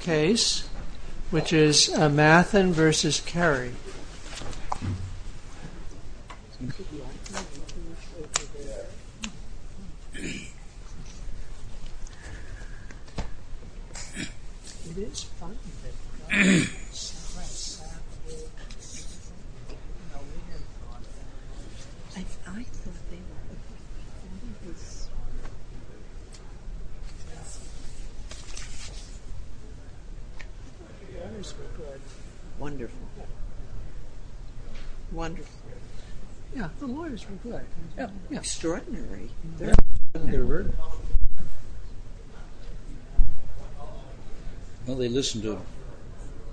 ...case, which is Mathin v. Kerry. The lawyers were good. Wonderful. Wonderful. Yeah, the lawyers were good. Extraordinary. Well, they listened to the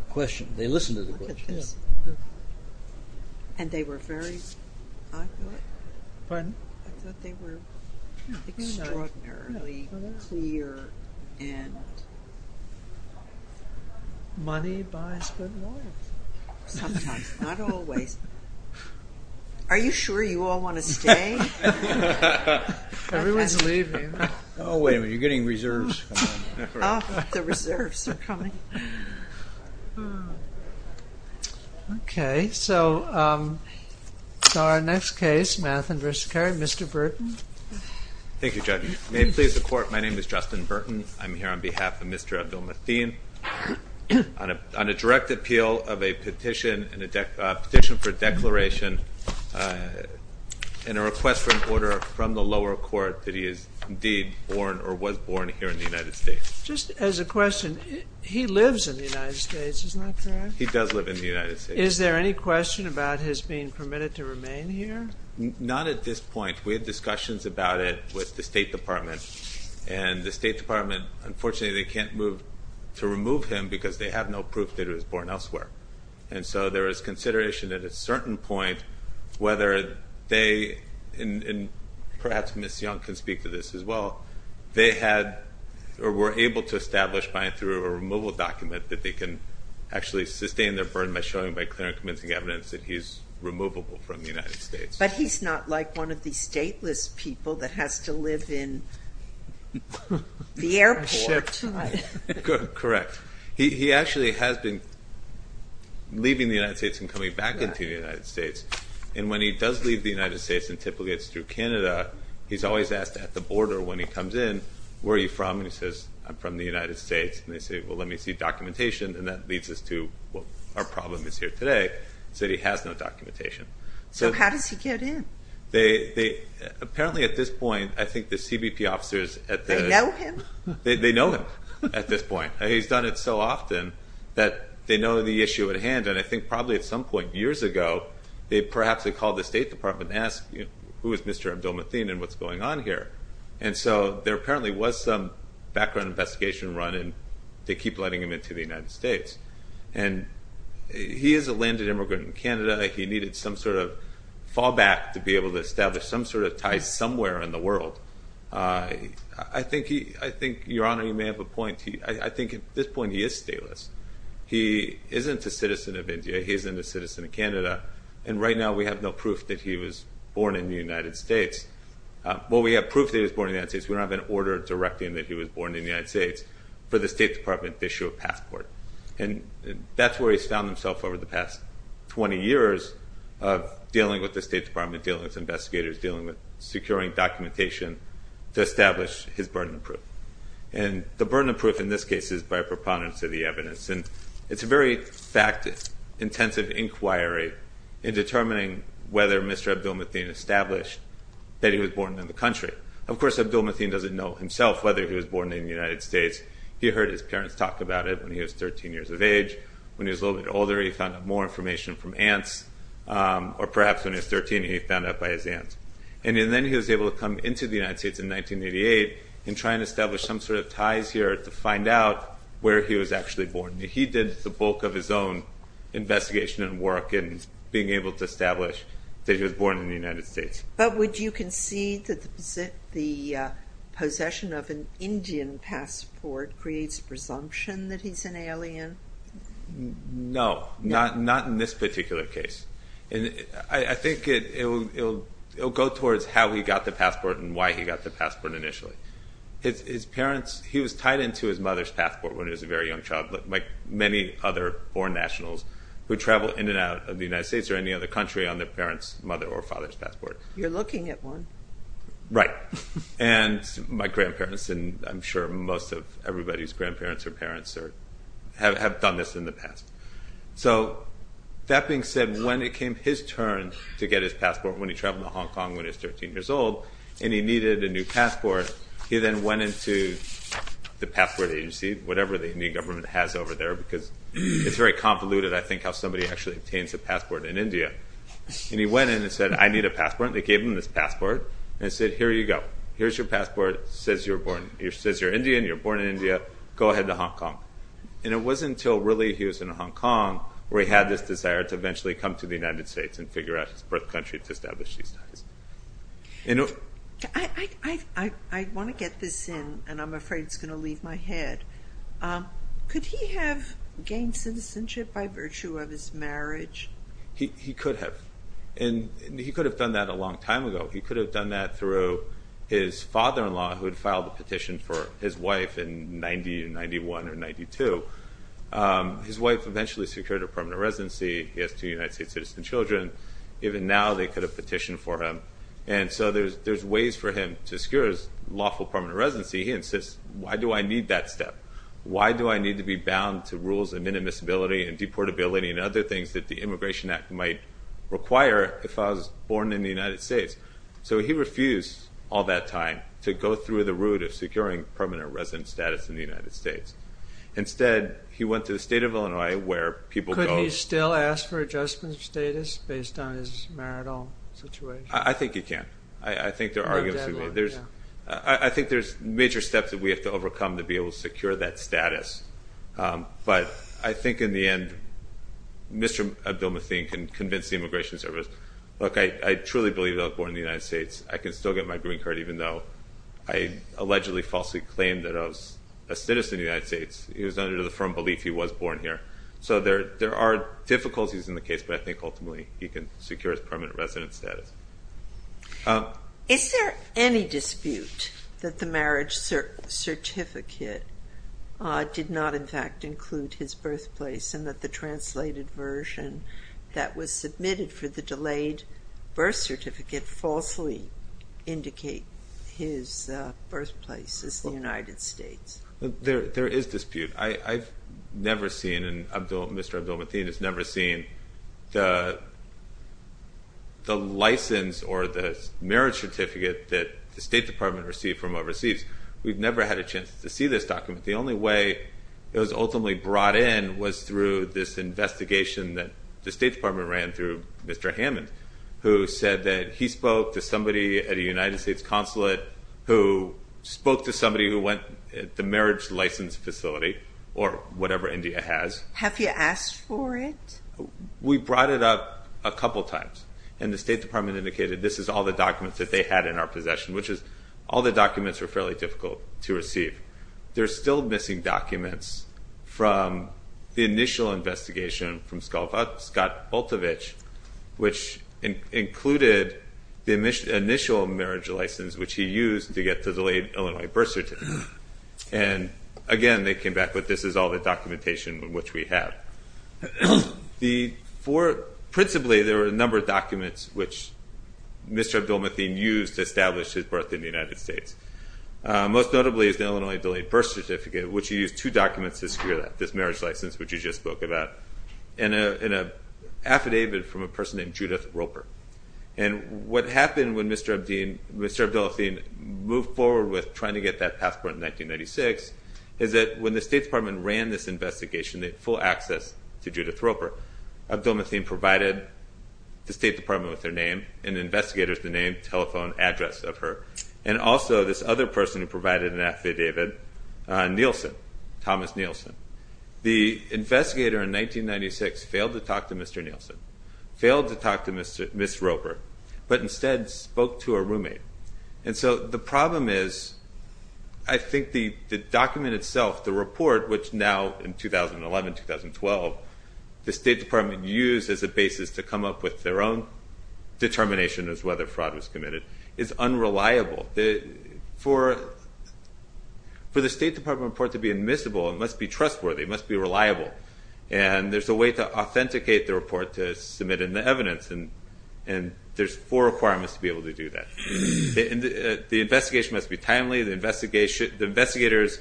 question. They listened to the question. And they were very... Pardon? I thought they were extraordinarily clear and... Money buys good lawyers. Sometimes. Not always. Are you sure you all want to stay? Everyone's leaving. Oh, wait a minute. You're getting reserves. Oh, the reserves are coming. Okay, so our next case, Mathin v. Kerry, Mr. Burton. Thank you, Judge. May it please the Court, my name is Justin Burton. I'm here on behalf of Mr. Abdel-Mathin on a direct appeal of a petition for declaration and a request for an order from the lower court that he is indeed born or was born here in the United States. Just as a question, he lives in the United States, isn't that correct? He does live in the United States. Is there any question about his being permitted to remain here? Not at this point. We had discussions about it with the State Department. And the State Department, unfortunately, they can't move to remove him because they have no proof that he was born elsewhere. And so there is consideration at a certain point whether they, and perhaps Ms. Young can speak to this as well, they had or were able to establish by and through a removal document that they can actually sustain their burden by showing by clear and convincing evidence that he is removable from the United States. But he's not like one of these stateless people that has to live in the airport. Correct. He actually has been leaving the United States and coming back into the United States. And when he does leave the United States and typically gets through Canada, he's always asked at the border when he comes in, where are you from? And he says, I'm from the United States. And they say, well, let me see documentation. And that leads us to what our problem is here today, is that he has no documentation. So how does he get in? Apparently at this point, I think the CBP officers at the... They know him? They know him at this point. He's done it so often that they know the issue at hand. And I think probably at some point years ago they perhaps had called the State Department and asked, who is Mr. Abdul-Mateen and what's going on here? And so there apparently was some background investigation run, and they keep letting him into the United States. And he is a landed immigrant in Canada. He needed some sort of fallback to be able to establish some sort of tie somewhere in the world. I think, Your Honor, you may have a point. I think at this point he is stateless. He isn't a citizen of India. He isn't a citizen of Canada. And right now we have no proof that he was born in the United States. Well, we have proof that he was born in the United States. We don't have an order directing him that he was born in the United States for the State Department to issue a passport. And that's where he's found himself over the past 20 years of dealing with the State Department, dealing with investigators, dealing with securing documentation to establish his burden of proof. And the burden of proof in this case is by a preponderance of the evidence. And it's a very fact-intensive inquiry in determining whether Mr. Abdul-Mateen established that he was born in the country. Of course, Abdul-Mateen doesn't know himself whether he was born in the United States. He heard his parents talk about it when he was 13 years of age. When he was a little bit older, he found out more information from aunts. Or perhaps when he was 13, he found out by his aunts. And then he was able to come into the United States in 1988 and try and establish some sort of ties here to find out where he was actually born. He did the bulk of his own investigation and work in being able to establish that he was born in the United States. But would you concede that the possession of an Indian passport creates presumption that he's an alien? No, not in this particular case. I think it will go towards how he got the passport and why he got the passport initially. His parents, he was tied into his mother's passport when he was a very young child like many other born nationals who travel in and out of the United States or any other country on their parents' mother or father's passport. You're looking at one. Right. And my grandparents, and I'm sure most of everybody's grandparents or parents have done this in the past. So that being said, when it came his turn to get his passport when he traveled to Hong Kong when he was 13 years old and he needed a new passport, he then went into the passport agency, whatever the Indian government has over there, because it's very convoluted, I think, how somebody actually obtains a passport in India. And he went in and said, I need a passport. They gave him this passport and said, here you go. Here's your passport. It says you're Indian, you're born in India. Go ahead to Hong Kong. And it wasn't until really he was in Hong Kong where he had this desire to eventually come to the United States and figure out his birth country to establish these ties. I want to get this in, and I'm afraid it's going to leave my head. Could he have gained citizenship by virtue of his marriage? He could have. And he could have done that a long time ago. He could have done that through his father-in-law, who had filed a petition for his wife in 1991 or 92. His wife eventually secured a permanent residency. He has two United States citizen children. Even now they could have petitioned for him. And so there's ways for him to secure his lawful permanent residency. He insists, why do I need that step? Why do I need to be bound to rules of minimus ability and deportability and other things that the Immigration Act might require if I was born in the United States? So he refused all that time to go through the route of securing permanent residence status in the United States. Instead, he went to the state of Illinois where people go. Could he still ask for adjustment of status based on his marital situation? I think he can. I think there's major steps that we have to overcome to be able to secure that status. But I think in the end, Mr. Abdul-Mateen can convince the Immigration Service, look, I truly believe that I was born in the United States. I can still get my green card even though I allegedly falsely claimed that I was a citizen of the United States. It was under the firm belief he was born here. So there are difficulties in the case, but I think ultimately he can secure his permanent residence status. Is there any dispute that the marriage certificate did not in fact include his birthplace and that the translated version that was submitted for the delayed birth certificate falsely indicate his birthplace is the United States? There is dispute. I've never seen, and Mr. Abdul-Mateen has never seen, the license or the marriage certificate that the State Department received from overseas. We've never had a chance to see this document. The only way it was ultimately brought in was through this investigation that the State Department ran through Mr. Hammond, who said that he spoke to somebody at a United States consulate who spoke to somebody who went to the marriage license facility or whatever India has. Have you asked for it? We brought it up a couple times, and the State Department indicated this is all the documents that they had in our possession, which is all the documents were fairly difficult to receive. There are still missing documents from the initial investigation from Scott Boltovich, which included the initial marriage license, which he used to get the delayed Illinois birth certificate. Again, they came back with, this is all the documentation which we have. Principally, there were a number of documents which Mr. Abdul-Mateen used to establish his birth in the United States. Most notably is the Illinois delayed birth certificate, which he used two documents to secure that, this marriage license which you just spoke about, and an affidavit from a person named Judith Roper. What happened when Mr. Abdul-Mateen moved forward with trying to get that passport in 1996 is that when the State Department ran this investigation, they had full access to Judith Roper. Abdul-Mateen provided the State Department with her name, and investigators the name, telephone address of her, and also this other person who provided an affidavit, Nielsen, Thomas Nielsen. The investigator in 1996 failed to talk to Mr. Nielsen, failed to talk to Ms. Roper, but instead spoke to her roommate. The problem is, I think the document itself, the report, which now in 2011, 2012, the State Department used as a basis to come up with their own determination as to whether fraud was committed, is unreliable. For the State Department report to be admissible, it must be trustworthy, it must be reliable. And there's a way to authenticate the report to submit in the evidence, and there's four requirements to be able to do that. The investigation must be timely, the investigator's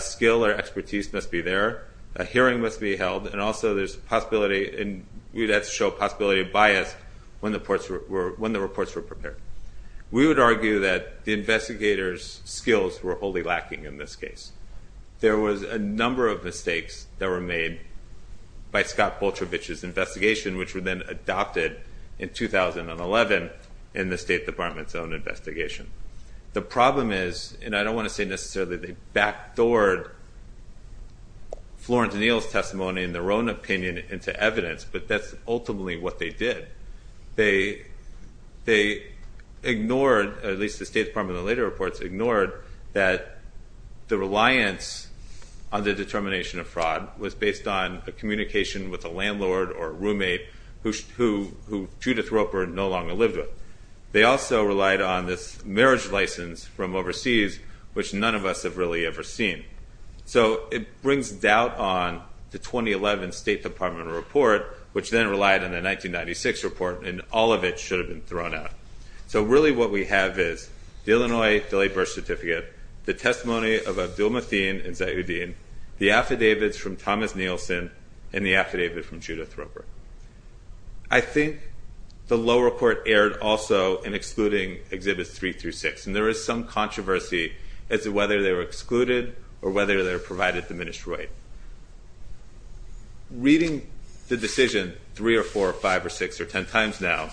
skill or expertise must be there, a hearing must be held, and also there's a possibility, and we'd have to show a possibility of bias when the reports were prepared. We would argue that the investigator's skills were wholly lacking in this case. There was a number of mistakes that were made by Scott Bolchevich's investigation, which were then adopted in 2011 in the State Department's own investigation. The problem is, and I don't want to say necessarily they backdoored Florence Neal's testimony and their own opinion into evidence, but that's ultimately what they did. They ignored, at least the State Department in the later reports, ignored that the reliance on the determination of fraud was based on a communication with a landlord or a roommate who Judith Roper no longer lived with. They also relied on this marriage license from overseas, which none of us have really ever seen. So it brings doubt on the 2011 State Department report, which then relied on the 1996 report, and all of it should have been thrown out. So really what we have is the Illinois Delayed Birth Certificate, the testimony of Abdulmateen and Zayuddin, the affidavits from Thomas Nielsen, and the affidavit from Judith Roper. I think the lower court erred also in excluding Exhibits 3 through 6, and there is some controversy as to whether they were excluded or whether they were provided diminished right. Reading the decision three or four or five or six or ten times now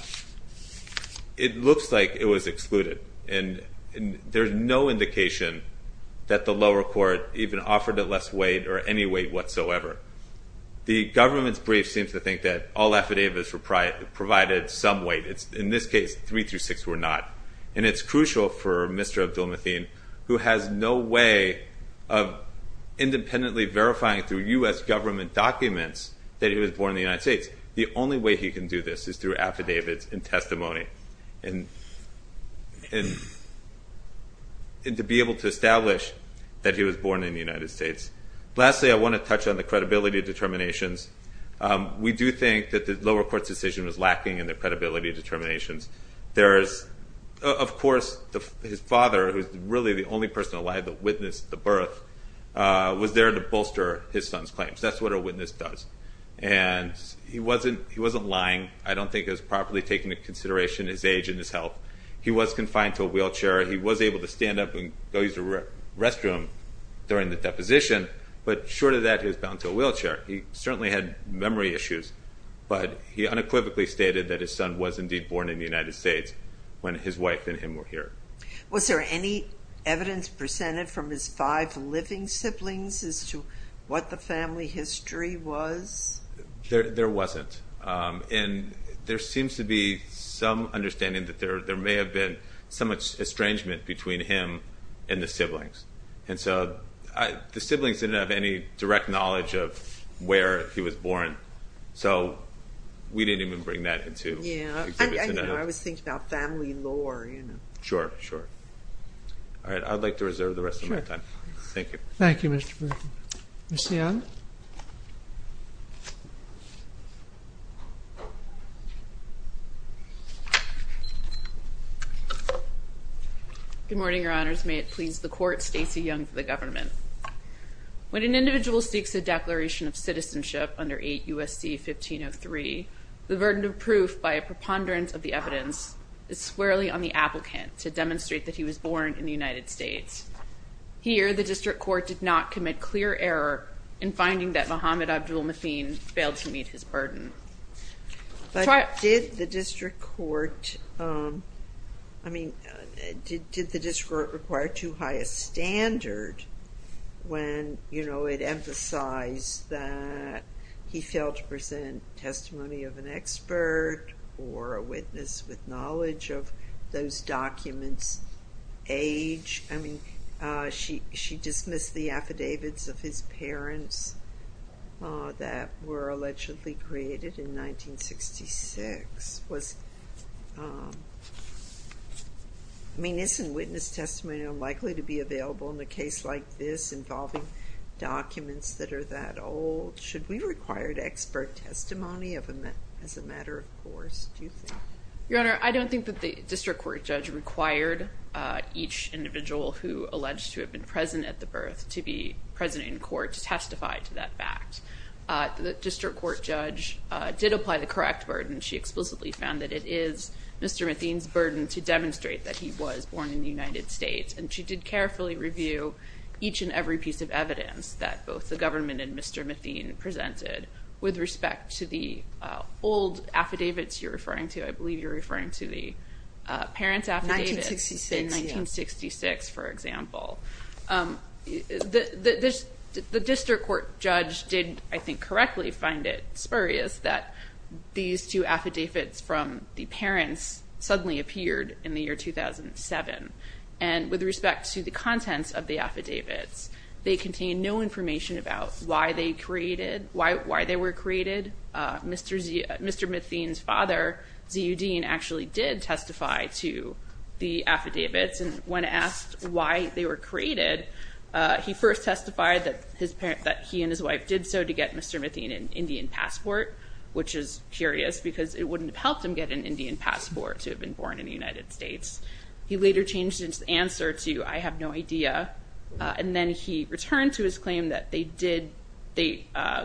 it looks like it was excluded, and there's no indication that the lower court even offered it less weight or any weight whatsoever. The government's brief seems to think that all affidavits provided some weight. In this case, 3 through 6 were not. And it's crucial for Mr. Abdulmateen, who has no way of independently verifying through U.S. government documents that he was born in the United States. The only way he can do this is through affidavits and testimony to be able to establish that he was born in the United States. Lastly, I want to touch on the credibility determinations. We do think that the lower court's decision was lacking in the credibility determinations. Of course, his father, who's really the only person alive that witnessed the birth, was there to bolster his son's claims. That's what a witness does. And he wasn't lying. I don't think it was properly taking into consideration his age and his health. He was confined to a wheelchair. He was able to stand up and go use the restroom during the deposition, but short of that, he was bound to a wheelchair. He certainly had memory issues, but he unequivocally stated that his son was indeed born in the United States when his wife and him were here. Was there any evidence presented from his five living siblings as to what the family history was? There wasn't, and there seems to be some understanding that there may have been some estrangement between him and the siblings. And so the siblings didn't have any direct knowledge of where he was born, so we didn't even bring that into exhibits. I was thinking about family lore. Sure, sure. All right, I'd like to reserve the rest of my time. Thank you. Thank you, Mr. Burton. Ms. Young? Good morning, Your Honors. May it please the Court, Stacy Young for the government. When an individual seeks a declaration of citizenship under 8 U.S.C. 1503, the burden of proof by a preponderance of the evidence is squarely on the applicant to demonstrate that he was born in the United States. Here, the District Court did not commit clear error in finding that Muhammad Abdul-Mateen failed to meet his burden. But did the District Court, I mean, did the District Court require too high a standard when, you know, it emphasized that he failed to present testimony of an expert or a witness with knowledge of those documents' age? I mean, she dismissed the affidavits of his parents that were allegedly created in 1966. Was, I mean, isn't witness testimony unlikely to be available in a case like this involving documents that are that old? Should we require expert testimony as a matter of course, do you think? Your Honor, I don't think that the District Court judge required each individual who alleged to have been present at the birth to be present in court to testify to that fact. The District Court judge did apply the correct burden. She explicitly found that it is Mr. Mateen's burden to demonstrate that he was born in the United States, and she did carefully review each and every piece of evidence that both the government and Mr. Mateen presented with respect to the old affidavits you're referring to. I believe you're referring to the parents' affidavits in 1966, for example. The District Court judge did, I think, correctly find it spurious that these two affidavits from the parents suddenly appeared in the year 2007. And with respect to the contents of the affidavits, they contain no information about why they were created. Mr. Mateen's father, Z.U. Dean, actually did testify to the affidavits, and when asked why they were created, he first testified that he and his wife did so to get Mr. Mateen an Indian passport, which is curious because it wouldn't have helped him get an Indian passport to have been born in the United States. He later changed his answer to, I have no idea, and then he returned to his claim that they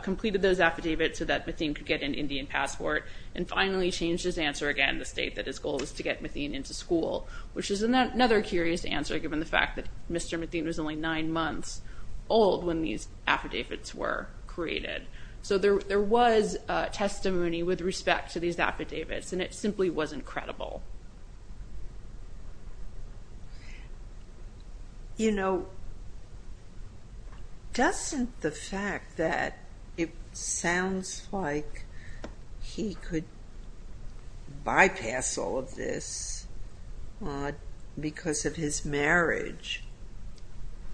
completed those affidavits so that Mateen could get an Indian passport, and finally changed his answer again to state that his goal was to get Mateen into school, which is another curious answer given the fact that Mr. Mateen was only nine months old when these affidavits were created. So there was testimony with respect to these affidavits, and it simply wasn't credible. You know, doesn't the fact that it sounds like he could bypass all of this because of his marriage,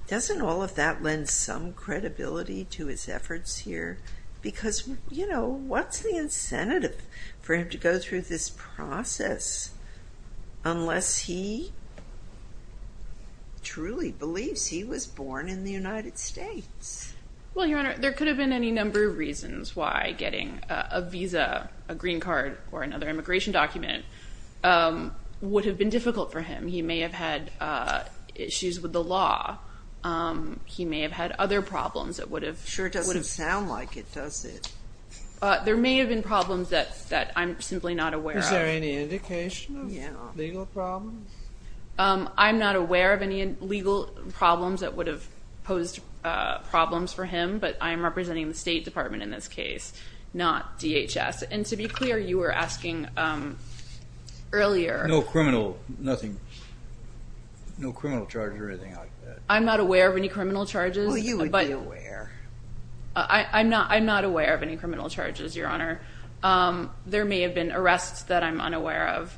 doesn't all of that lend some credibility to his efforts here? Because, you know, what's the incentive for him to go through this process unless he truly believes he was born in the United States? Well, Your Honor, there could have been any number of reasons why getting a visa, a green card, or another immigration document would have been difficult for him. He may have had issues with the law. He may have had other problems that would have... Sure doesn't sound like it, does it? There may have been problems that I'm simply not aware of. Is there any indication of legal problems? I'm not aware of any legal problems that would have posed problems for him, but I'm representing the State Department in this case, not DHS. And to be clear, you were asking earlier... No criminal charges or anything like that? I'm not aware of any criminal charges. Well, you would be aware. I'm not aware of any criminal charges, Your Honor. There may have been arrests that I'm unaware of.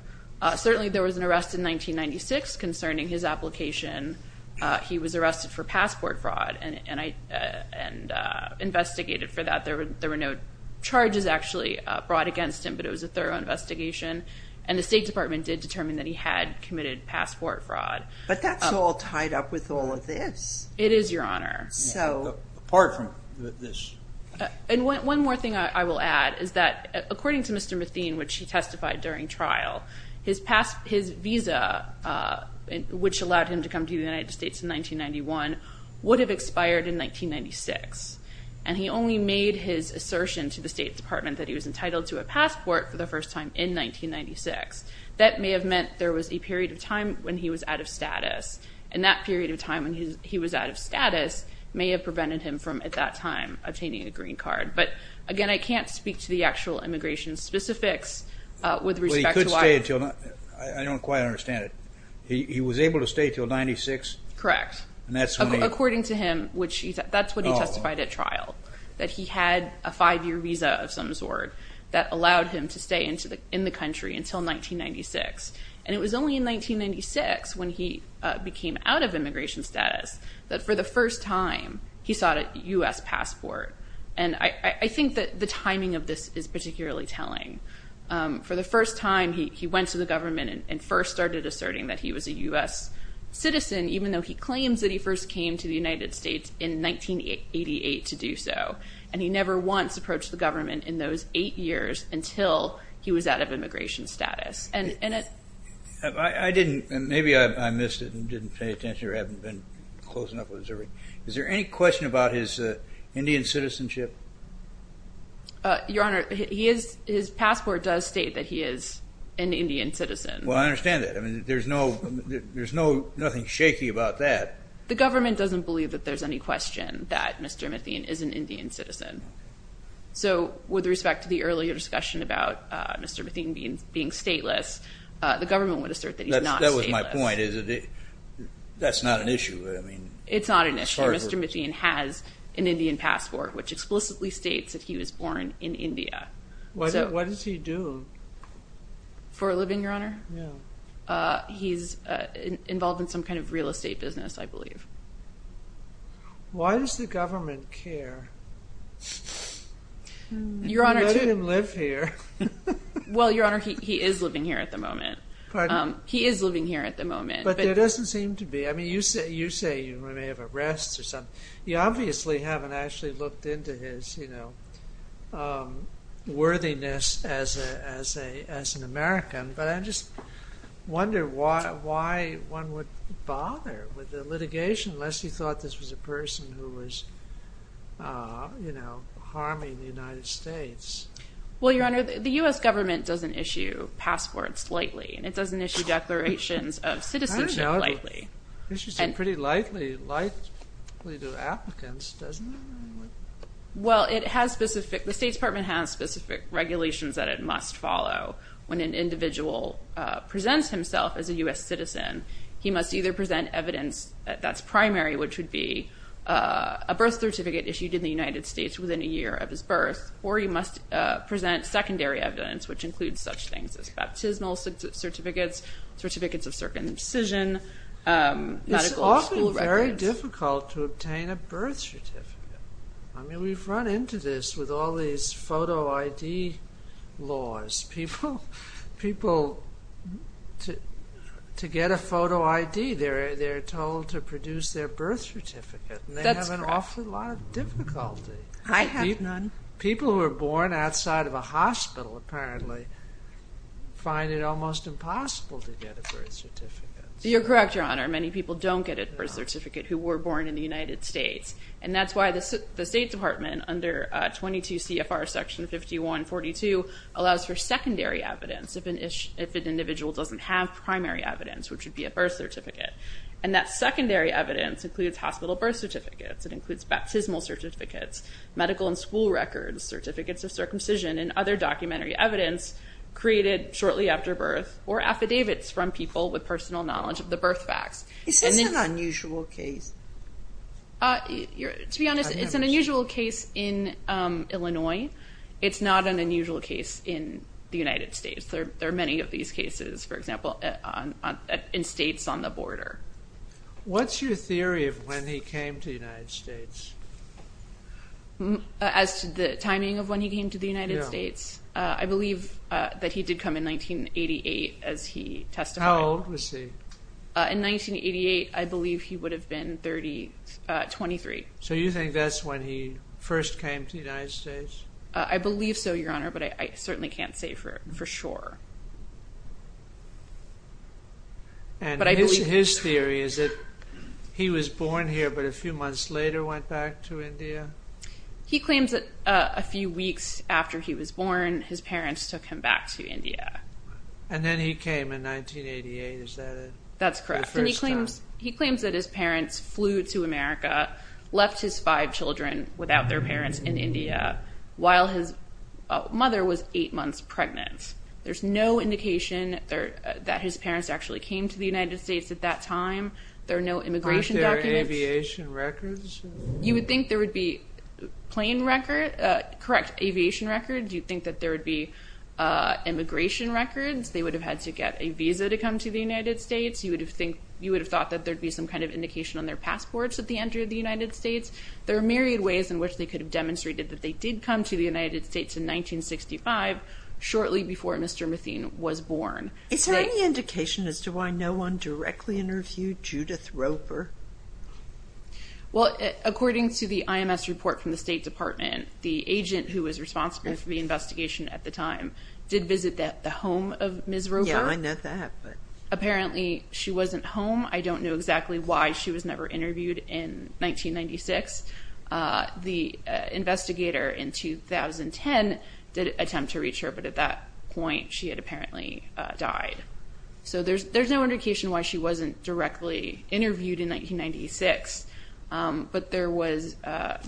Certainly there was an arrest in 1996 concerning his application. He was arrested for passport fraud and investigated for that. There were no charges actually brought against him, but it was a thorough investigation, and the State Department did determine that he had committed passport fraud. But that's all tied up with all of this. It is, Your Honor. Apart from this. And one more thing I will add is that, according to Mr. Mathine, which he testified during trial, his visa, which allowed him to come to the United States in 1991, would have expired in 1996, and he only made his assertion to the State Department that he was entitled to a passport for the first time in 1996. That may have meant there was a period of time when he was out of status, and that period of time when he was out of status may have prevented him from, at that time, obtaining a green card. But, again, I can't speak to the actual immigration specifics with respect to why. But he could stay until, I don't quite understand it. He was able to stay until 1996? Correct. According to him, that's what he testified at trial, that he had a five-year visa of some sort that allowed him to stay in the country until 1996. And it was only in 1996, when he became out of immigration status, that, for the first time, he sought a U.S. passport. And I think that the timing of this is particularly telling. For the first time, he went to the government and first started asserting that he was a U.S. citizen, even though he claims that he first came to the United States in 1988 to do so. And he never once approached the government in those eight years until he was out of immigration status. I didn't, and maybe I missed it and didn't pay attention or haven't been close enough with observing. Is there any question about his Indian citizenship? Your Honor, his passport does state that he is an Indian citizen. Well, I understand that. I mean, there's nothing shaky about that. The government doesn't believe that there's any question that Mr. Mathien is an Indian citizen. So with respect to the earlier discussion about Mr. Mathien being stateless, the government would assert that he's not stateless. That was my point. That's not an issue. It's not an issue. Mr. Mathien has an Indian passport, which explicitly states that he was born in India. What does he do? For a living, Your Honor. He's involved in some kind of real estate business, I believe. Why does the government care? You're letting him live here. Well, Your Honor, he is living here at the moment. He is living here at the moment. But there doesn't seem to be. I mean, you say you may have arrests or something. You obviously haven't actually looked into his, you know, worthiness as an American, but I just wonder why one would bother with the litigation unless you thought this was a person who was, you know, harming the United States. Well, Your Honor, the U.S. government doesn't issue passports lightly, and it doesn't issue declarations of citizenship lightly. I don't know. It should seem pretty lightly to applicants, doesn't it? Well, the State Department has specific regulations that it must follow when an individual presents himself as a U.S. citizen. He must either present evidence that's primary, which would be a birth certificate issued in the United States within a year of his birth, or he must present secondary evidence, which includes such things as baptismal certificates, certificates of circumcision, medical school records. It's often very difficult to obtain a birth certificate. I mean, we've run into this with all these photo ID laws. People, to get a photo ID, they're told to produce their birth certificate. That's correct. And they have an awful lot of difficulty. I have none. People who are born outside of a hospital, apparently, find it almost impossible to get a birth certificate. You're correct, Your Honor. Many people don't get a birth certificate who were born in the United States, and that's why the State Department, under 22 CFR Section 5142, allows for secondary evidence if an individual doesn't have primary evidence, which would be a birth certificate. And that secondary evidence includes hospital birth certificates. It includes baptismal certificates, medical and school records, certificates of circumcision, and other documentary evidence created shortly after birth or affidavits from people with personal knowledge of the birth facts. Is this an unusual case? To be honest, it's an unusual case in Illinois. It's not an unusual case in the United States. There are many of these cases, for example, in states on the border. What's your theory of when he came to the United States? As to the timing of when he came to the United States? I believe that he did come in 1988 as he testified. How old was he? In 1988, I believe he would have been 23. So you think that's when he first came to the United States? I believe so, Your Honor, but I certainly can't say for sure. And his theory is that he was born here, but a few months later went back to India? He claims that a few weeks after he was born, his parents took him back to India. And then he came in 1988, is that it? That's correct. He claims that his parents flew to America, left his five children without their parents in India, while his mother was eight months pregnant. There's no indication that his parents actually came to the United States at that time. There are no immigration documents. Aren't there aviation records? You would think there would be plane records, correct, aviation records. You'd think that there would be immigration records. They would have had to get a visa to come to the United States. You would have thought that there would be some kind of indication on their passports at the entry of the United States. There are myriad ways in which they could have demonstrated that they did come to the United States in 1965, shortly before Mr. Mathine was born. Is there any indication as to why no one directly interviewed Judith Roper? Well, according to the IMS report from the State Department, the agent who was responsible for the investigation at the time did visit the home of Ms. Roper. Yeah, I know that. Apparently she wasn't home. I don't know exactly why she was never interviewed in 1996. The investigator in 2010 did attempt to reach her, but at that point she had apparently died. So there's no indication why she wasn't directly interviewed in 1996, but there was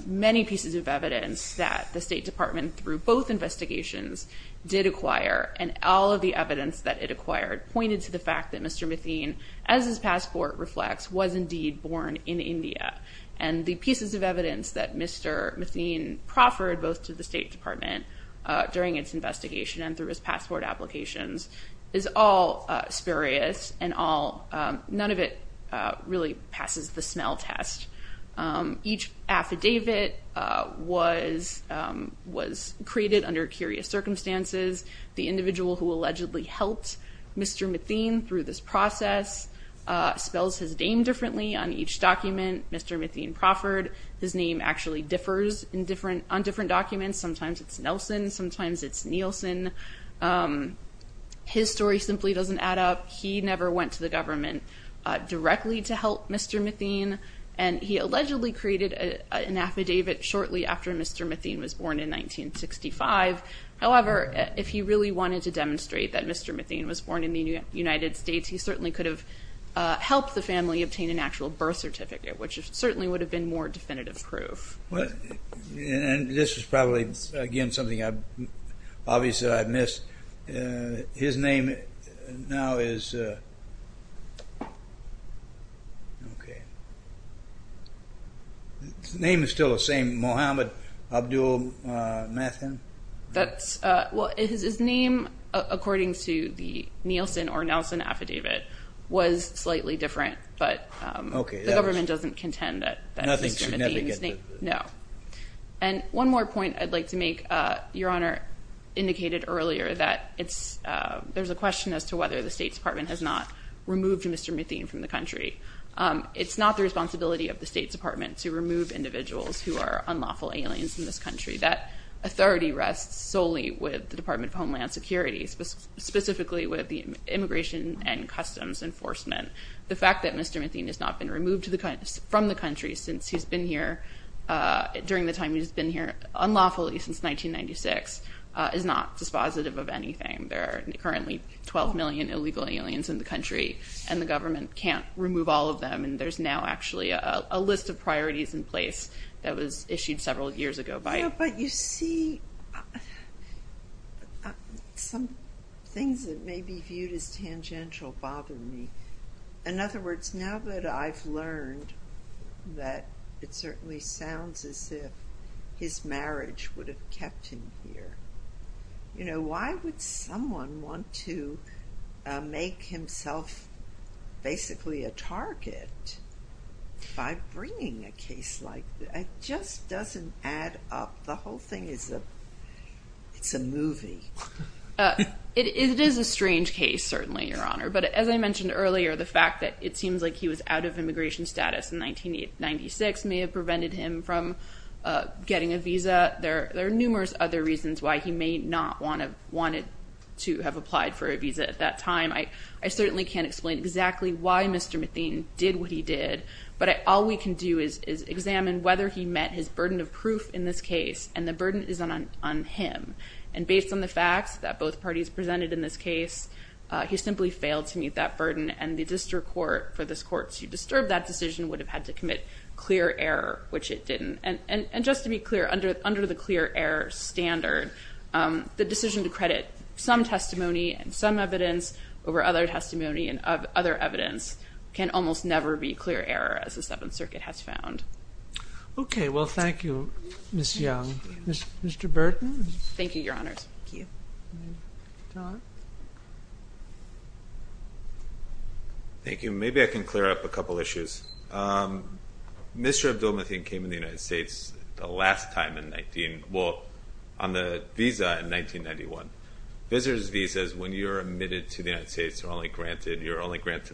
many pieces of evidence that the State Department, through both investigations, did acquire, and all of the evidence that it acquired pointed to the fact that Mr. Mathine, as his passport reflects, was indeed born in India. And the pieces of evidence that Mr. Mathine proffered both to the State Department during its investigation and through his passport applications is all spurious and none of it really passes the smell test. Each affidavit was created under curious circumstances. The individual who allegedly helped Mr. Mathine through this process spells his name differently on each document. Mr. Mathine proffered, his name actually differs on different documents. Sometimes it's Nelson, sometimes it's Nielsen. His story simply doesn't add up. He never went to the government directly to help Mr. Mathine, and he allegedly created an affidavit shortly after Mr. Mathine was born in 1965. However, if he really wanted to demonstrate that Mr. Mathine was born in the United States, he certainly could have helped the family obtain an actual birth certificate, which certainly would have been more definitive proof. And this is probably, again, something obviously I've missed. His name now is, okay. His name is still the same, Mohammed Abdul Mathine? Well, his name, according to the Nielsen or Nelson affidavit, was slightly different, but the government doesn't contend that Mr. Mathine's name And one more point I'd like to make. Your Honor indicated earlier that there's a question as to whether the State Department has not removed Mr. Mathine from the country. It's not the responsibility of the State Department to remove individuals who are unlawful aliens in this country. That authority rests solely with the Department of Homeland Security, specifically with the Immigration and Customs Enforcement. The fact that Mr. Mathine has not been removed from the country since he's been here during the time he's been here, unlawfully, since 1996, is not dispositive of anything. There are currently 12 million illegal aliens in the country, and the government can't remove all of them. And there's now actually a list of priorities in place that was issued several years ago. But you see, some things that may be viewed as tangential bother me. In other words, now that I've learned that it certainly sounds as if his marriage would have kept him here, you know, why would someone want to make himself basically a target by bringing a case like this? It just doesn't add up. The whole thing is a movie. It is a strange case, certainly, Your Honor. But as I mentioned earlier, the fact that it seems like he was out of immigration status in 1996 may have prevented him from getting a visa. There are numerous other reasons why he may not have wanted to have applied for a visa at that time. I certainly can't explain exactly why Mr. Mathine did what he did, but all we can do is examine whether he met his burden of proof in this case, and the burden is on him. And based on the facts that both parties presented in this case, he simply failed to meet that burden, and the district court, for this court to disturb that decision, would have had to commit clear error, which it didn't. And just to be clear, under the clear error standard, the decision to credit some testimony and some evidence over other testimony and other evidence can almost never be clear error, as the Seventh Circuit has found. Okay, well, thank you, Ms. Young. Mr. Burton? Thank you, Your Honor. Thank you. John? Thank you. Maybe I can clear up a couple issues. Mr. Abdul-Mathine came in the United States the last time in 19- well, on the visa in 1991. Visitor's visas, when you're admitted to the United States, you're only granted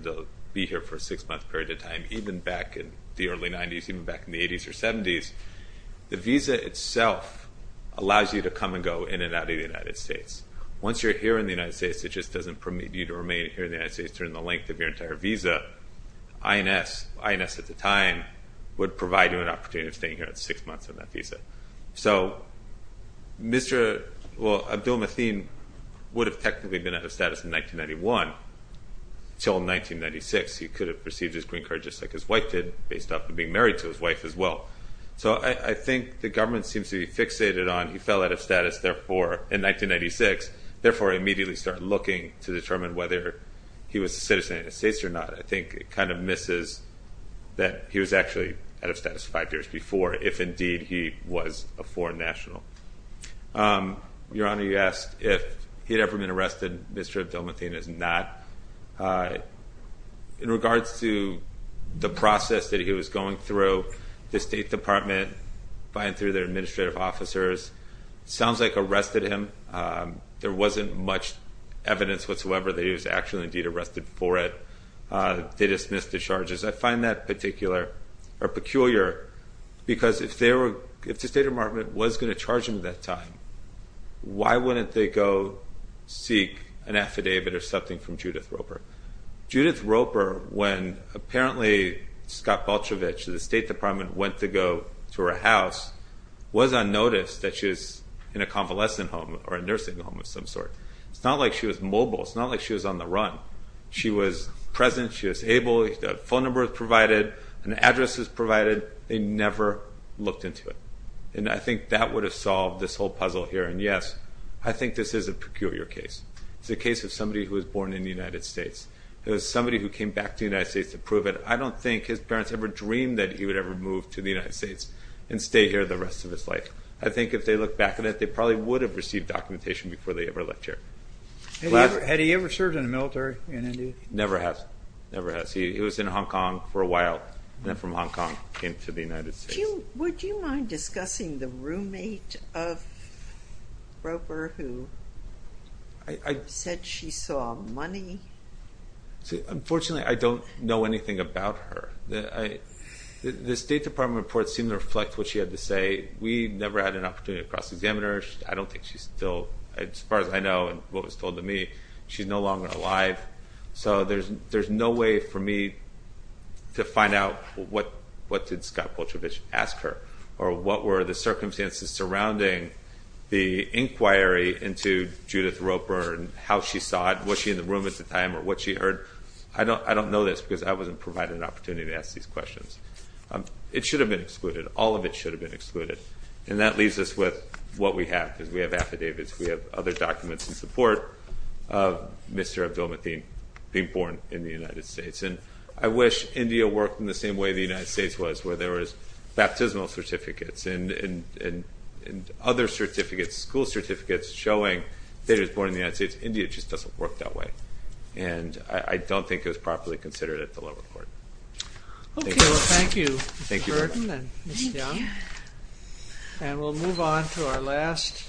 to be here for a six-month period of time, even back in the early 90s, even back in the 80s or 70s. The visa itself allows you to come and go in and out of the United States. Once you're here in the United States, it just doesn't permit you to remain here in the United States during the length of your entire visa. INS, INS at the time, would provide you an opportunity of staying here for six months on that visa. So Mr. Abdul-Mathine would have technically been out of status in 1991 until 1996. He could have received his green card just like his wife did, based off of being married to his wife as well. So I think the government seems to be fixated on he fell out of status, therefore, in 1996, therefore immediately started looking to determine whether he was a citizen of the United States or not. I think it kind of misses that he was actually out of status five years before, if indeed he was a foreign national. Your Honor, you asked if he had ever been arrested. Mr. Abdul-Mathine has not. In regards to the process that he was going through, the State Department, by and through their administrative officers, sounds like arrested him. There wasn't much evidence whatsoever that he was actually indeed arrested for it. They dismissed the charges. I find that particular or peculiar because if the State Department was going to charge him at that time, why wouldn't they go seek an affidavit or something from Judith Roper? Judith Roper, when apparently Scott Bolchevich, the State Department, went to go to her house, was on notice that she was in a convalescent home or a nursing home of some sort. It's not like she was mobile. It's not like she was on the run. She was present. She was able. A phone number was provided. An address was provided. They never looked into it. And I think that would have solved this whole puzzle here. And, yes, I think this is a peculiar case. It's the case of somebody who was born in the United States. It was somebody who came back to the United States to prove it. I don't think his parents ever dreamed that he would ever move to the United States and stay here the rest of his life. I think if they look back at it, they probably would have received documentation before they ever left here. Had he ever served in the military in India? Never has. Never has. He was in Hong Kong for a while, then from Hong Kong came to the United States. Would you mind discussing the roommate of Roper who said she saw money? Unfortunately, I don't know anything about her. The State Department reports seem to reflect what she had to say. We never had an opportunity to cross-examine her. I don't think she's still, as far as I know and what was told to me, she's no longer alive. So there's no way for me to find out what did Scott Poltravich ask her or what were the circumstances surrounding the inquiry into Judith Roper and how she saw it, what she in the room at the time or what she heard. I don't know this because I wasn't provided an opportunity to ask these questions. It should have been excluded. All of it should have been excluded. And that leaves us with what we have. We have affidavits. We have other documents in support of Mr. Abdul-Mateen being born in the United States. And I wish India worked in the same way the United States was where there was baptismal certificates and other certificates, school certificates showing that he was born in the United States. India just doesn't work that way. And I don't think it was properly considered at the lower court. Okay. Well, thank you, Mr. Burton and Ms. Young. And we'll move on to our last.